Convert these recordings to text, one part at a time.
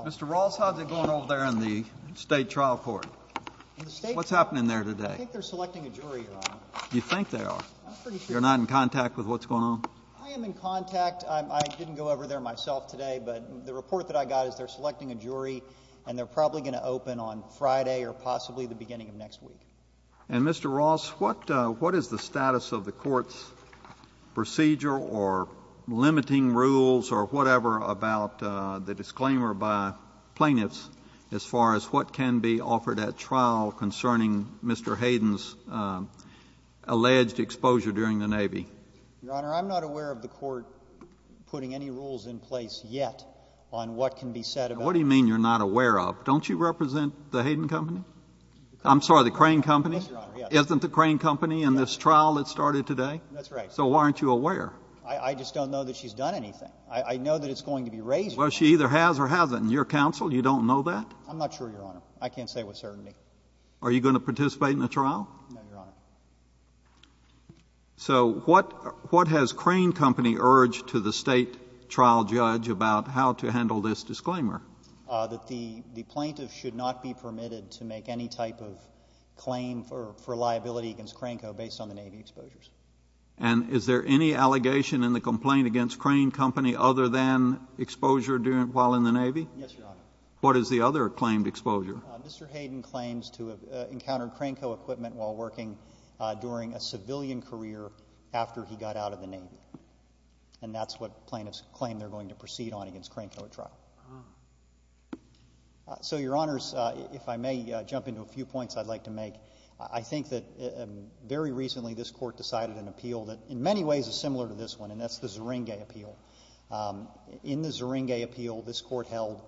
Mr. Ross, how's it going over there in the state trial court? What's happening there today? I think they're selecting a jury, Your Honor. You think they are? I'm pretty sure they are. You're not in contact with what's going on? I am in contact. I didn't go over there myself today, but the report that I got is they're selecting a jury and they're probably going to open on Friday or possibly the beginning of next week. And, Mr. Ross, what is the status of the court's procedure or limiting rules or whatever about the disclaimer by plaintiffs as far as what can be offered at trial concerning Mr. Hayden's alleged exposure during the Navy? Your Honor, I'm not aware of the court putting any rules in place yet on what can be said about— What do you mean, you're not aware of? Don't you represent the Crane Company in this trial that started today? That's right. So why aren't you aware? I just don't know that she's done anything. I know that it's going to be raised— Well, she either has or hasn't. Your counsel, you don't know that? I'm not sure, Your Honor. I can't say with certainty. Are you going to participate in the trial? No, Your Honor. So what has Crane Company urged to the State trial judge about how to handle this disclaimer? That the plaintiff should not be permitted to make any type of claim for liability against Crane Co. based on the Navy exposures. And is there any allegation in the complaint against Crane Company other than exposure during — while in the Navy? Yes, Your Honor. What is the other claimed exposure? Mr. Hayden claims to have encountered Crane Co. equipment while working during a civilian career after he got out of the Navy. And that's what plaintiffs claim they're going to proceed on against Crane Co. at trial. So Your Honors, if I may jump into a few points I'd like to make. I think that very recently this Court decided an appeal that in many ways is similar to this one, and that's the Zeringue Appeal. In the Zeringue Appeal, this Court held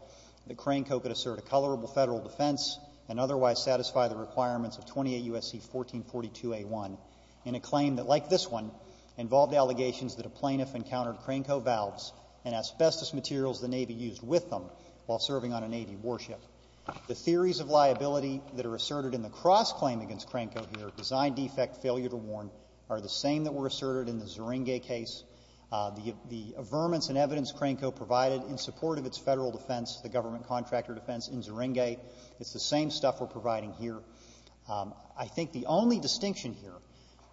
that Crane Co. could assert a colorable federal defense and otherwise satisfy the requirements of 28 U.S.C. 1442a1 in a claim that, like this one, involved allegations that a plaintiff encountered Crane Co. valves and asbestos materials the Navy used with them while serving on a Navy warship. The theories of liability that are asserted in the cross-claim against Crane Co. here, design defect, failure to warn, are the same that were asserted in the Zeringue case. The averments and evidence Crane Co. provided in support of its federal defense, the government contractor defense in Zeringue, it's the same stuff we're providing here. I think the only distinction here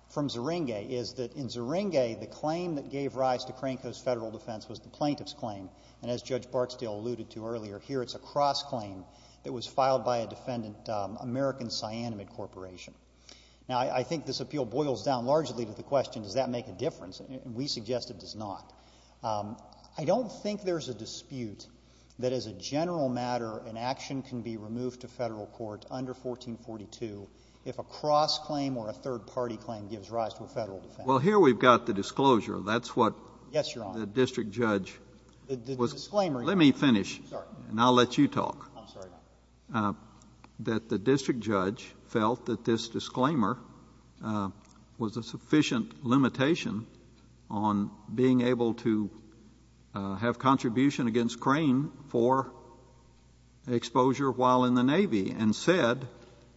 from Zeringue is that in Zeringue, the claim that gave rise to Crane Co.'s federal defense was the plaintiff's claim. And as Judge Bartsdale alluded to earlier, here it's a cross-claim that was filed by a defendant, American Cyanamid Corporation. Now, I think this appeal boils down largely to the question, does that make a difference? And we suggest it does not. I don't think there's a dispute that as a general matter, an action can be removed to federal court under 1442 if a cross-claim or a third-party claim gives rise to a federal defense. Well, here we've got the disclosure. That's what the district judge was going to do. Let me finish, and I'll let you talk. I'm sorry, Your Honor. I'm sorry, Your Honor, that the district judge felt that this disclaimer was a sufficient limitation on being able to have contribution against Crane for exposure while in the Navy and said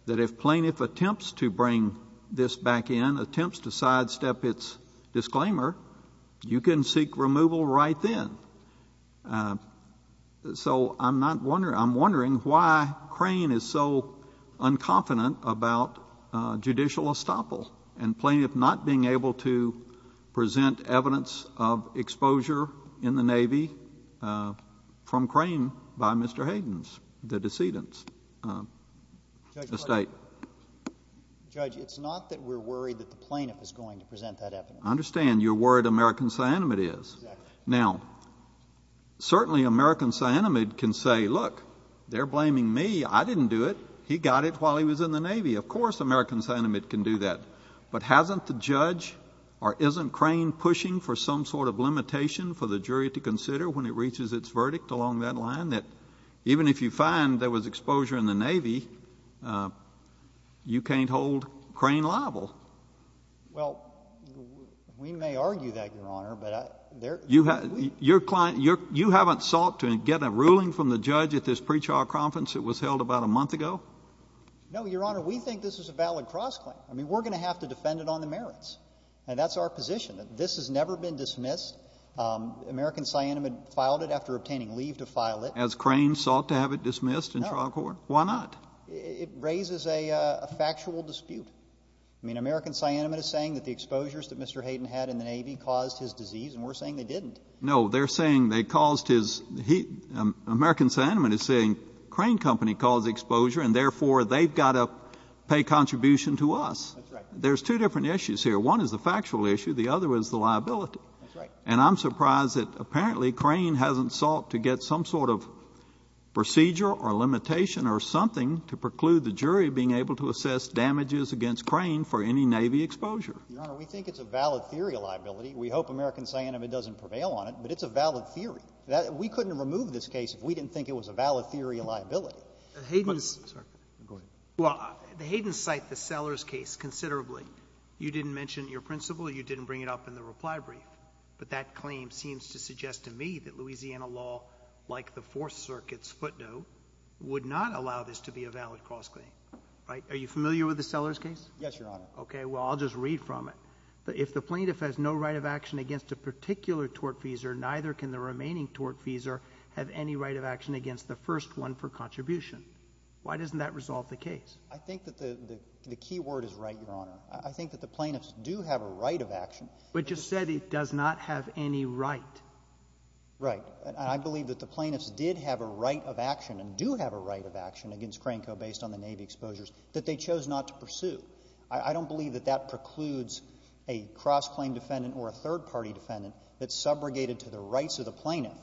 that if plaintiff attempts to bring this back in, attempts to sidestep its disclaimer, you can seek removal right then. So I'm wondering why Crane is so unconfident about judicial estoppel and plaintiff not being able to present evidence of exposure in the Navy from Crane by Mr. Hayden's, the decedent's estate. Judge, it's not that we're worried that the plaintiff is going to present that evidence. I understand. You're worried American Cyanamid is. Exactly. Now, certainly, American Cyanamid can say, look, they're blaming me. I didn't do it. He got it while he was in the Navy. Of course, American Cyanamid can do that. But hasn't the judge or isn't Crane pushing for some sort of limitation for the jury to consider when it reaches its verdict along that line that even if you find there was exposure in the Navy, you can't hold Crane liable? Well, we may argue that, Your Honor, but I — You haven't sought to get a ruling from the judge at this pre-trial conference that was held about a month ago? No, Your Honor. We think this is a valid cross-claim. I mean, we're going to have to defend it on the merits. And that's our position, that this has never been dismissed. American Cyanamid filed it after obtaining leave to file it. Has Crane sought to have it dismissed in trial court? No. Why not? It raises a factual dispute. I mean, American Cyanamid is saying that the exposures that Mr. Hayden had in the No, they're saying they caused his — American Cyanamid is saying Crane Company caused the exposure, and therefore, they've got to pay contribution to us. That's right. There's two different issues here. One is the factual issue. The other is the liability. That's right. And I'm surprised that apparently Crane hasn't sought to get some sort of procedure or limitation or something to preclude the jury being able to assess damages against Your Honor, we think it's a valid theory of liability. We hope American Cyanamid doesn't prevail on it, but it's a valid theory. We couldn't remove this case if we didn't think it was a valid theory of liability. Hayden's — Go ahead. Well, the Hayden's cite the Sellers case considerably. You didn't mention your principle. You didn't bring it up in the reply brief. But that claim seems to suggest to me that Louisiana law, like the Fourth Circuit's footnote, would not allow this to be a valid cross-claim. Right? Are you familiar with the Sellers case? Yes, Your Honor. Okay. Well, I'll just read from it. If the plaintiff has no right of action against a particular tortfeasor, neither can the remaining tortfeasor have any right of action against the first one for contribution. Why doesn't that resolve the case? I think that the key word is right, Your Honor. I think that the plaintiffs do have a right of action. But you said it does not have any right. Right. I believe that the plaintiffs did have a right of action and do have a right of action against Cranco based on the Navy exposures that they chose not to pursue. I don't believe that that precludes a cross-claim defendant or a third-party defendant that's subrogated to the rights of the plaintiff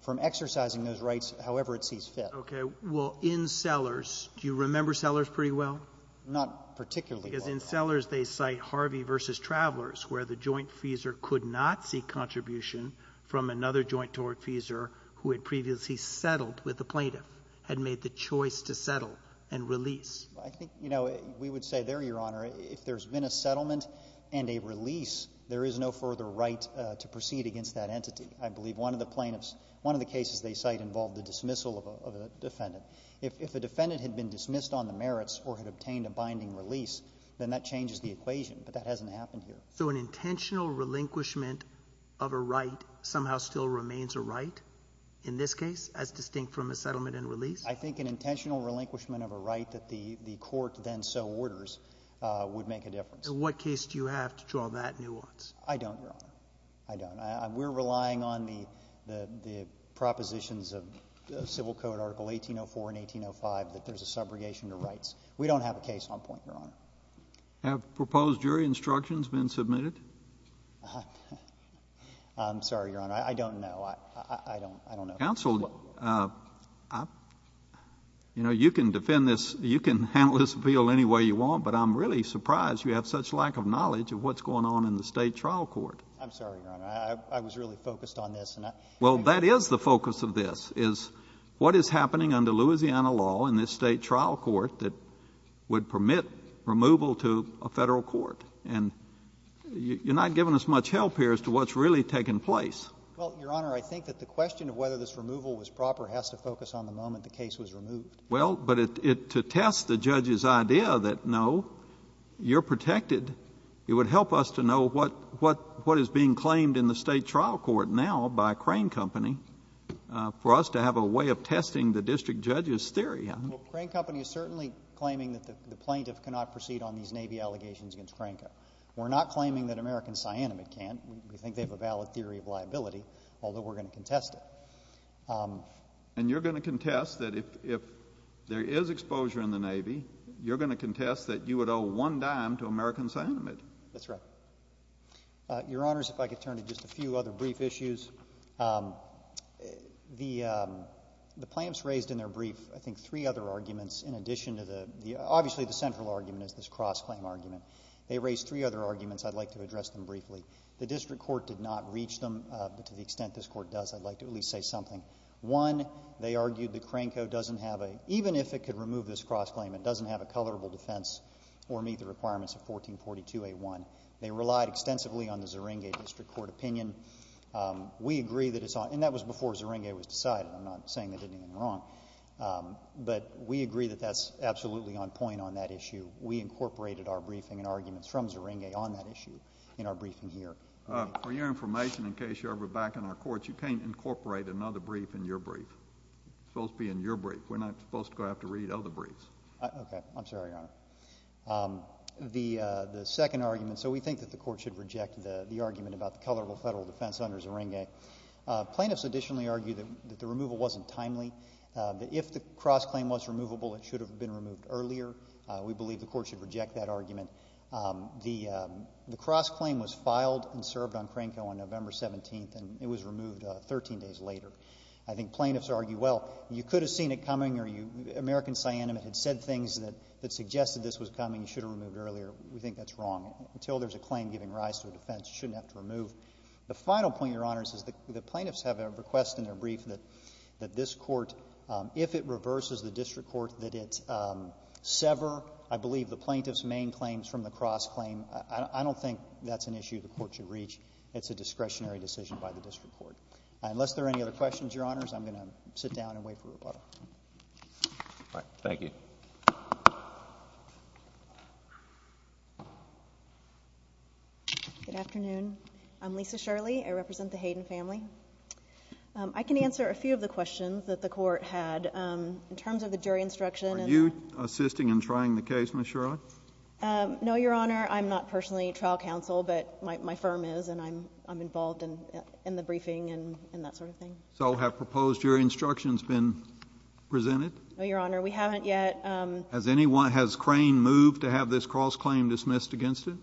from exercising those rights however it sees fit. Okay. Well, in Sellers, do you remember Sellers pretty well? Not particularly well. Because in Sellers, they cite Harvey v. Travelers, where the jointfeasor could not seek contribution from another joint tortfeasor who had previously settled with the plaintiff, had made the choice to settle and release. I think, you know, we would say there, Your Honor, if there's been a settlement and a release, there is no further right to proceed against that entity. I believe one of the plaintiffs, one of the cases they cite involved the dismissal of a defendant. If a defendant had been dismissed on the merits or had obtained a binding release, then that changes the equation. But that hasn't happened here. So an intentional relinquishment of a right somehow still remains a right in this case, as distinct from a settlement and release? I think an intentional relinquishment of a right that the court then so orders would make a difference. And what case do you have to draw that nuance? I don't, Your Honor. I don't. We're relying on the propositions of Civil Code Article 1804 and 1805 that there's a subrogation to rights. We don't have a case on point, Your Honor. Have proposed jury instructions been submitted? I'm sorry, Your Honor. I don't know. I don't know. Counsel, you know, you can defend this, you can handle this appeal any way you want, but I'm really surprised you have such lack of knowledge of what's going on in the State trial court. I'm sorry, Your Honor. I was really focused on this. Well, that is the focus of this, is what is happening under Louisiana law in this State trial court that would permit removal to a Federal court. And you're not giving us much help here as to what's really taken place. Well, Your Honor, I think that the question of whether this removal was proper has to focus on the moment the case was removed. Well, but to test the judge's idea that, no, you're protected, it would help us to know what is being claimed in the State trial court now by Crane Company for us to have a way of testing the district judge's theory. Well, Crane Company is certainly claiming that the plaintiff cannot proceed on these Navy allegations against Crane Company. We're not claiming that American Cyanamid can't. We think they have a valid theory of liability, although we're going to contest it. And you're going to contest that if there is exposure in the Navy, you're going to contest that you would owe one dime to American Cyanamid. That's right. Your Honors, if I could turn to just a few other brief issues. The plaintiffs raised in their brief, I think, three other arguments in addition to the — obviously, the central argument is this cross-claim argument. They raised three other arguments. I'd like to address them briefly. The district court did not reach them, but to the extent this court does, I'd like to at least say something. One, they argued that Crane Co. doesn't have a — even if it could remove this cross-claim, it doesn't have a coverable defense or meet the requirements of 1442A1. They relied extensively on the Zeringue District Court opinion. We agree that it's — and that was before Zeringue was decided. I'm not saying they did anything wrong. But we agree that that's absolutely on point on that issue. We incorporated our briefing and arguments from Zeringue on that issue in our briefing here. JUSTICE KENNEDY For your information, in case you're ever back in our courts, you can't incorporate another brief in your brief. It's supposed to be in your brief. We're not supposed to have to read other briefs. MR. CLEMENT Okay. I'm sorry, Your Honor. The second argument — so we think that the court should reject the argument about the coverable federal defense under Zeringue. Plaintiffs additionally argued that the removal wasn't timely, that if the cross-claim was removable, it should have been removed earlier. We believe the court should reject that argument. The cross-claim was filed and served on Cranco on November 17th, and it was removed 13 days later. I think plaintiffs argue, well, you could have seen it coming or you — American Siannum had said things that suggested this was coming, you should have removed earlier. We think that's wrong. Until there's a claim giving rise to a defense, you shouldn't have to remove. The final point, Your Honors, is the plaintiffs have a request in their brief that this Court, if it reverses the district court, that it sever, I believe, the plaintiff's main claims from the cross-claim. I don't think that's an issue the court should reach. It's a discretionary decision by the district court. Unless there are any other questions, Your Honors, I'm going to sit down and wait for rebuttal. All right. Thank you. Good afternoon. I'm Lisa Shirley. I represent the Hayden family. I can answer a few of the questions that the court had in terms of the jury instruction and — Are you assisting in trying the case, Ms. Shirley? I am. No, Your Honor. I'm not personally a trial counsel, but my firm is, and I'm involved in the briefing and that sort of thing. So have proposed jury instructions been presented? No, Your Honor. We haven't yet. Has anyone — has Crane moved to have this cross-claim dismissed against it?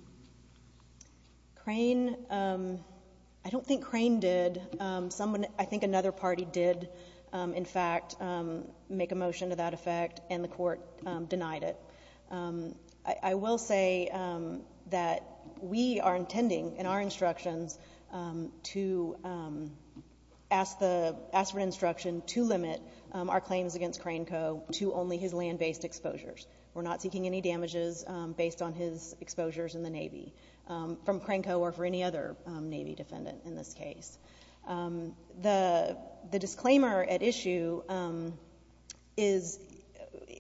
Crane — I don't think Crane did. I think another party did, in fact, make a motion to that effect, and the court denied it. So I will say that we are intending in our instructions to ask the — ask for instruction to limit our claims against Crane Co. to only his land-based exposures. We're not seeking any damages based on his exposures in the Navy from Crane Co. or for any other Navy defendant in this case. The disclaimer at issue is —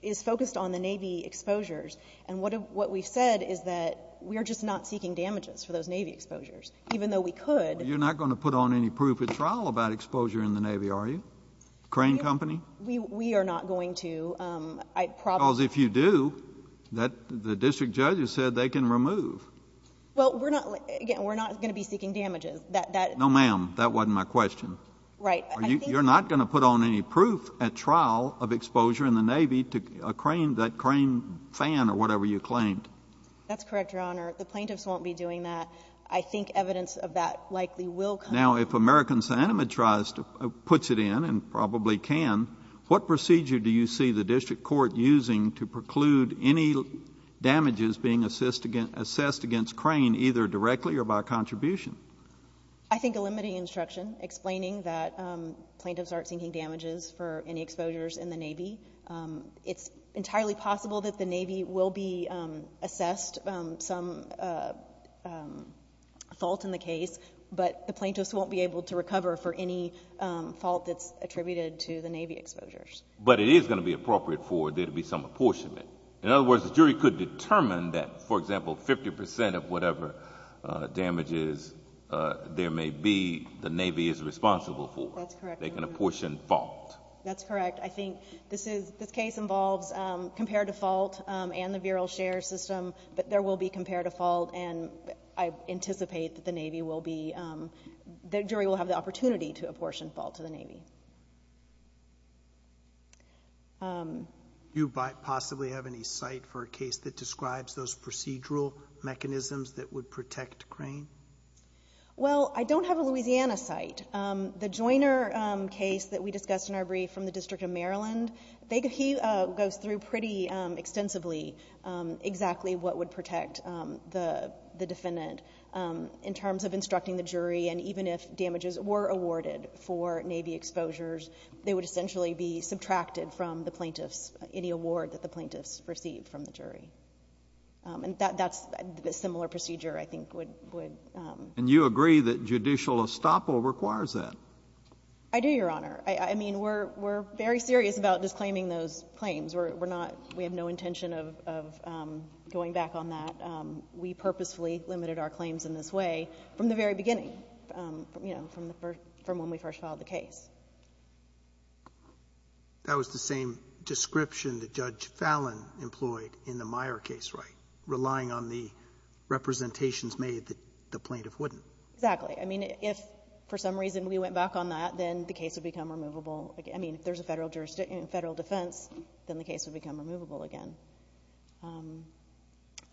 is focused on the Navy exposures. And what we've said is that we are just not seeking damages for those Navy exposures, even though we could — But you're not going to put on any proof at trial about exposure in the Navy, are you? Crane Co.? We are not going to. I probably — Because if you do, that — the district judge has said they can remove. Well, we're not — again, we're not going to be seeking damages. That — No, ma'am. That wasn't my question. Right. I think — You're not going to put on any proof at trial of exposure in the Navy to Crane — that Crane fan or whatever you claimed. That's correct, Your Honor. The plaintiffs won't be doing that. I think evidence of that likely will come. Now, if American Sinema tries to — puts it in, and probably can, what procedure do you see the district court using to preclude any damages being assessed against — assessed against Crane either directly or by contribution? I think eliminating instruction, explaining that plaintiffs aren't seeking damages for any exposures in the Navy. It's entirely possible that the Navy will be assessed some fault in the case, but the plaintiffs won't be able to recover for any fault that's attributed to the Navy exposures. But it is going to be appropriate for there to be some apportionment. In other words, the jury could determine that, for example, 50 percent of whatever damages there may be, the Navy is responsible for. That's correct, Your Honor. They can apportion fault. That's correct. I think this is — this case involves comparative fault and the virile share system, but there will be comparative fault, and I anticipate that the Navy will be — the jury will have the opportunity to apportion fault to the Navy. Do you possibly have any site for a case that describes those procedural mechanisms that would protect Crane? Well, I don't have a Louisiana site. The Joyner case that we discussed in our brief from the District of Maryland, he goes through pretty extensively exactly what would protect the defendant in terms of instructing the jury. And even if damages were awarded for Navy exposures, they would essentially be subtracted from the plaintiffs, any award that the plaintiffs received from the jury. And that's — a similar procedure, I think, would — And you agree that judicial estoppel requires that? I do, Your Honor. I mean, we're very serious about disclaiming those claims. We're not — we have no intention of going back on that. We purposefully limited our claims in this way. From the very beginning, you know, from the first — from when we first filed the case. That was the same description that Judge Fallon employed in the Meyer case, right? Relying on the representations made that the plaintiff wouldn't. Exactly. I mean, if, for some reason, we went back on that, then the case would become removable again. I mean, if there's a Federal jurisdiction, Federal defense, then the case would become removable again.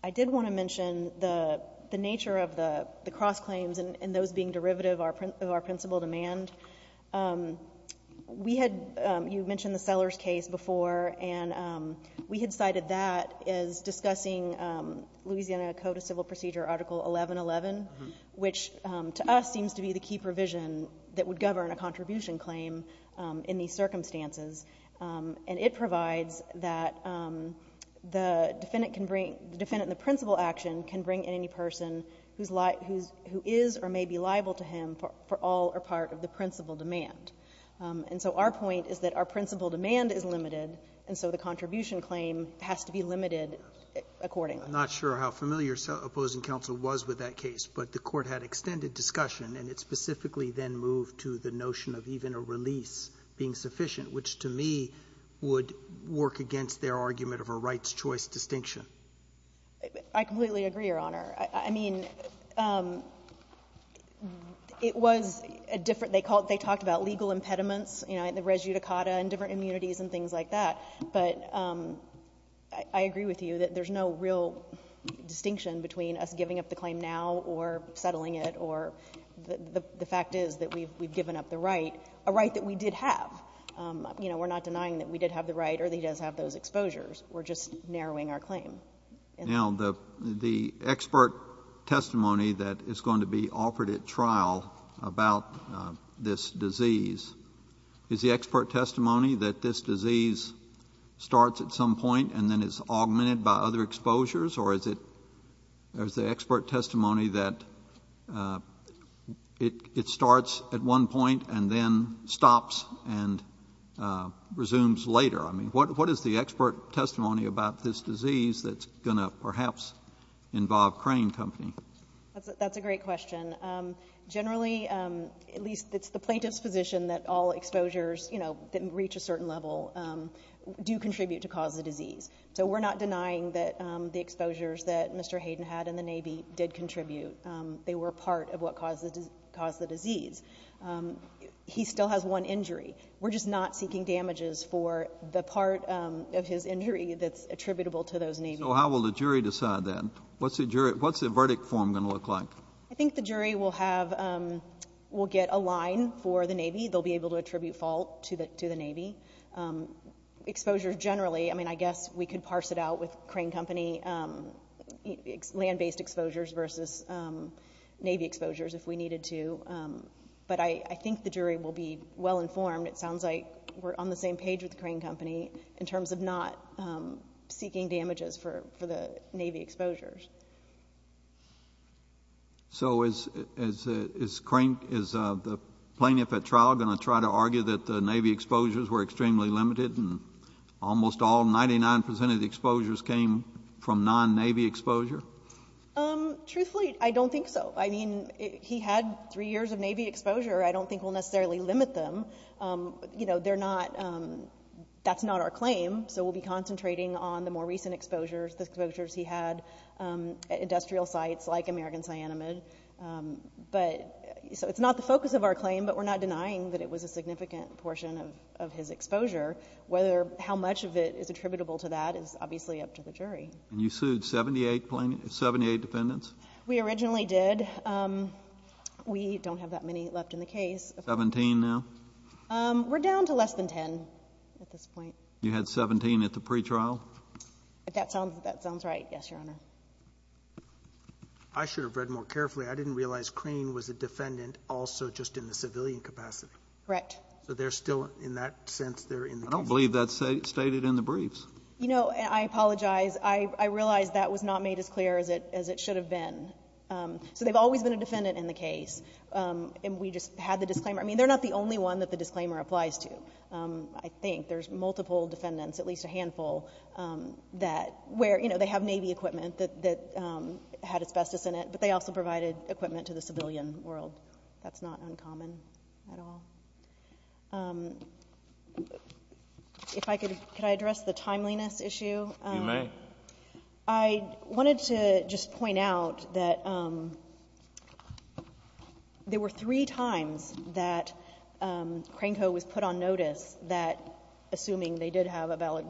I did want to mention the nature of the cross-claims and those being derivative of our principal demand. We had — you mentioned the Sellers case before, and we had cited that as discussing Louisiana Code of Civil Procedure Article 1111, which to us seems to be the key provision that would govern a contribution claim in these circumstances. And it provides that the defendant can bring — the defendant in the principal action can bring in any person who is or may be liable to him for all or part of the principal demand. And so our point is that our principal demand is limited, and so the contribution claim has to be limited accordingly. I'm not sure how familiar opposing counsel was with that case, but the Court had extended discussion, and it specifically then moved to the notion of even a release being sufficient, which, to me, would work against their argument of a rights-choice distinction. I completely agree, Your Honor. I mean, it was a different — they called — they talked about legal impediments, you know, the res judicata and different immunities and things like that. But I agree with you that there's no real distinction between us giving up the claim now or settling it or — the fact is that we've — we've given up the right, a right that we did have. You know, we're not denying that we did have the right or that he does have those exposures. We're just narrowing our claim. And so the — Now, the — the expert testimony that is going to be offered at trial about this disease, is the expert testimony that this disease starts at some point and then it's augmented by other exposures, or is it — is the expert testimony that it — it stops and resumes later? I mean, what — what is the expert testimony about this disease that's going to perhaps involve Crane Company? That's a — that's a great question. Generally, at least it's the plaintiff's position that all exposures, you know, that reach a certain level, do contribute to cause the disease. So we're not denying that the exposures that Mr. Hayden had in the Navy did contribute. They were part of what caused the — caused the disease. He still has one injury. We're just not seeking damages for the part of his injury that's attributable to those Navy — So how will the jury decide then? What's the jury — what's the verdict form going to look like? I think the jury will have — will get a line for the Navy. They'll be able to attribute fault to the — to the Navy. Exposures generally — I mean, I guess we could parse it out with Crane Company land-based exposures versus Navy exposures if we needed to. But I think the jury will be well informed. It sounds like we're on the same page with Crane Company in terms of not seeking damages for the Navy exposures. So is — is Crane — is the plaintiff at trial going to try to argue that the Navy exposures were extremely limited and almost all — 99 percent of the exposures came from non-Navy exposure? Truthfully, I don't think so. I mean, he had three years of Navy exposure. I don't think we'll necessarily limit them. You know, they're not — that's not our claim. So we'll be concentrating on the more recent exposures, the exposures he had at industrial sites like American Cyanamid. But — so it's not the focus of our claim, but we're not denying that it was a significant portion of his exposure. Whether — how much of it is attributable to that is obviously up to the jury. And you sued 78 plaintiffs — 78 defendants? We originally did. We don't have that many left in the case. Seventeen now? We're down to less than 10 at this point. You had 17 at the pretrial? That sounds — that sounds right, yes, Your Honor. I should have read more carefully. I didn't realize Crane was a defendant also just in the civilian capacity. Correct. So they're still — in that sense, they're in the custody. I don't believe that's stated in the briefs. You know, I apologize. I realize that was not made as clear as it should have been. So they've always been a defendant in the case. And we just had the disclaimer — I mean, they're not the only one that the disclaimer applies to. I think there's multiple defendants, at least a handful that — where, you know, they have Navy equipment that had asbestos in it, but they also provided equipment to the civilian world. That's not uncommon at all. If I could — could I address the timeliness issue? You may. I wanted to just point out that there were three times that Crane Co. was put on notice that — assuming they did have a valid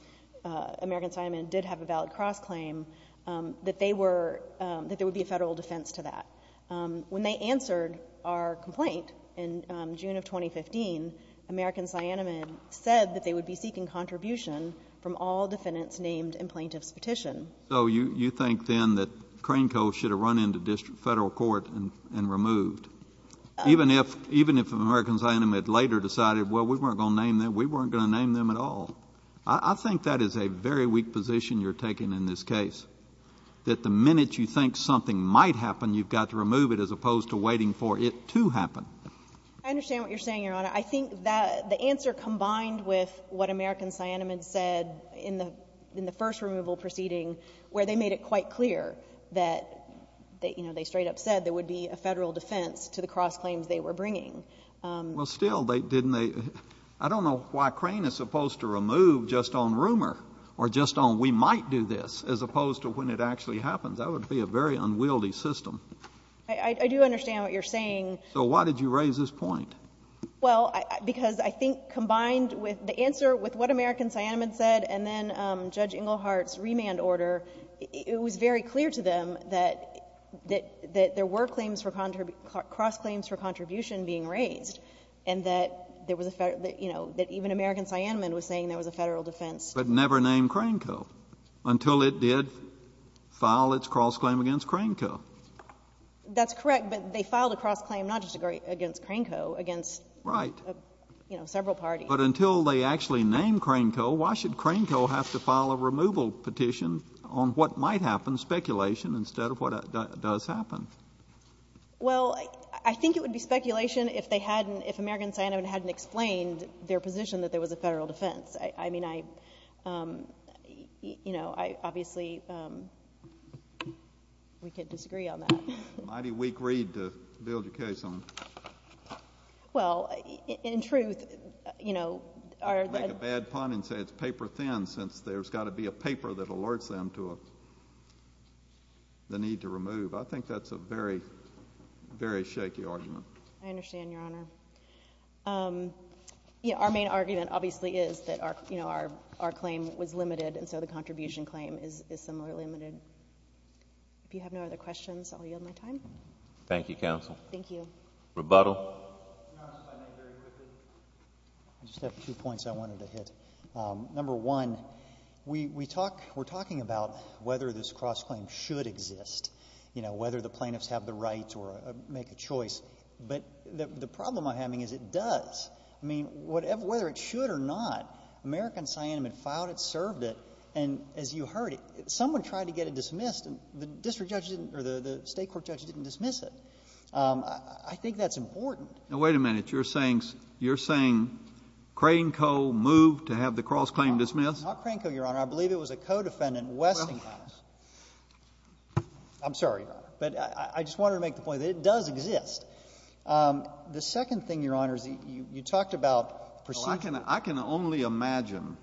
— American Assignment did have a valid cross-claim — that they were — that there would be a Federal defense to that. When they answered our complaint in June of 2015, American Siena Med said that they would be seeking contribution from all defendants named in plaintiff's petition. So you think then that Crane Co. should have run into federal court and removed? Even if American Siena Med later decided, well, we weren't going to name them? We weren't going to name them at all? I think that is a very weak position you're taking in this case, that the minute you think something might happen, you've got to remove it, as opposed to waiting for it to happen. I understand what you're saying, Your Honor. I think that the answer combined with what American Siena Med said in the — in the first removal proceeding, where they made it quite clear that, you know, they straight up said there would be a Federal defense to the cross-claims they were bringing. Well, still, they — didn't they — I don't know why Crane is supposed to remove just on rumor or just on we might do this, as opposed to when it actually happens. That would be a very unwieldy system. I do understand what you're saying. So why did you raise this point? Well, because I think combined with the answer with what American Siena Med said and then Judge Englehart's remand order, it was very clear to them that there were claims for — cross-claims for contribution being raised, and that there was a — you know, that even American Siena Med was saying there was a Federal defense. But never named Crane Co. until it did file its cross-claim against Crane Co. That's correct. But they filed a cross-claim not just against Crane Co., against, you know, several parties. Right. But until they actually named Crane Co., why should Crane Co. have to file a removal petition on what might happen, speculation, instead of what does happen? Well, I think it would be speculation if they hadn't — if American Siena Med hadn't explained their position that there was a Federal defense. I mean, I — you know, I obviously — we could disagree on that. Mighty weak read to build your case on. Well, in truth, you know, our — I don't want to make a bad pun and say it's paper-thin, since there's got to be a paper that alerts them to the need to remove. I think that's a very, very shaky argument. I understand, Your Honor. Our main argument, obviously, is that our — you know, our claim was limited, and so the contribution claim is similarly limited. If you have no other questions, I'll yield my time. Thank you, counsel. Thank you. Rebuttal. Can I ask my name very quickly? I just have two points I wanted to hit. Number one, we talk — we're talking about whether this cross-claim should exist, you know, whether the plaintiffs have the rights or make a choice. But the problem I'm having is it does. I mean, whether it should or not, American Sianem had filed it, served it, and as you heard, someone tried to get it dismissed, and the district judge didn't — or the State court judge didn't dismiss it. I think that's important. Now, wait a minute. You're saying — you're saying Crane Co. moved to have the cross-claim dismissed? Not Crane Co., Your Honor. I believe it was a co-defendant, Westinghouse. I'm sorry, Your Honor. But I just wanted to make the point that it does exist. The second thing, Your Honor, is you talked about — Well, I can only imagine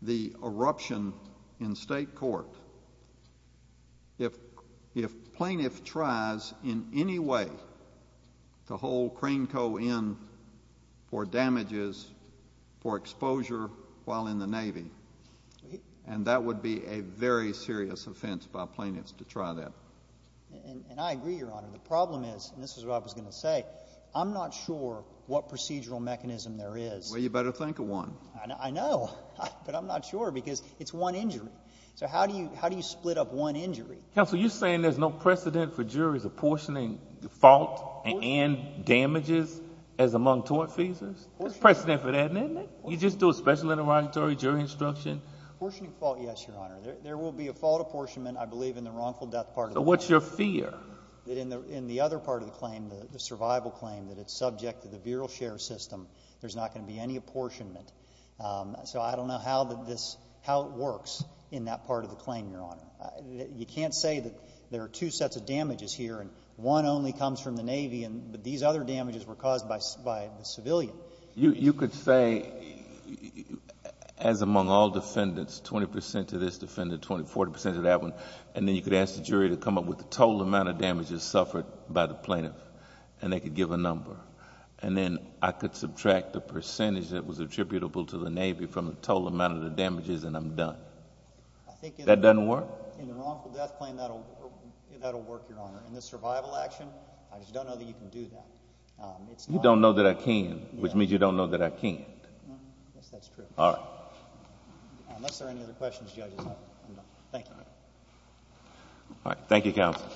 the eruption in State court if plaintiff tries in any way to hold Crane Co. in for damages, for exposure while in the Navy. And that would be a very serious offense by plaintiffs to try that. And I agree, Your Honor. The problem is, and this is what I was going to say, I'm not sure what procedural mechanism there is. Well, you better think of one. I know. But I'm not sure because it's one injury. So how do you — how do you split up one injury? Counsel, you're saying there's no precedent for juries apportioning fault and damages as among tort fees? There's precedent for that, isn't there? You just do a special interrogatory jury instruction? Apportioning fault, yes, Your Honor. There will be a fault apportionment, I believe, in the wrongful death part of the claim. So what's your fear? That in the other part of the claim, the survival claim, that it's subject to the Bureau of Sheriff's System, there's not going to be any apportionment. So I don't know how that this — how it works in that part of the claim, Your Honor. You can't say that there are two sets of damages here and one only comes from the Navy but these other damages were caused by the civilian. You could say, as among all defendants, 20 percent of this defendant, 20, 40 percent of that one, and then you could ask the jury to come up with the total amount of damages suffered by the plaintiff and they could give a number. And then I could subtract the percentage that was attributable to the Navy from the total amount of the damages and I'm done. That doesn't work? In the wrongful death claim, that'll work, Your Honor. In the survival action, I just don't know that you can do that. You don't know that I can, which means you don't know that I can't. Yes, that's true. All right. Unless there are any other questions, Judge, I'm done. All right. Thank you, counsel.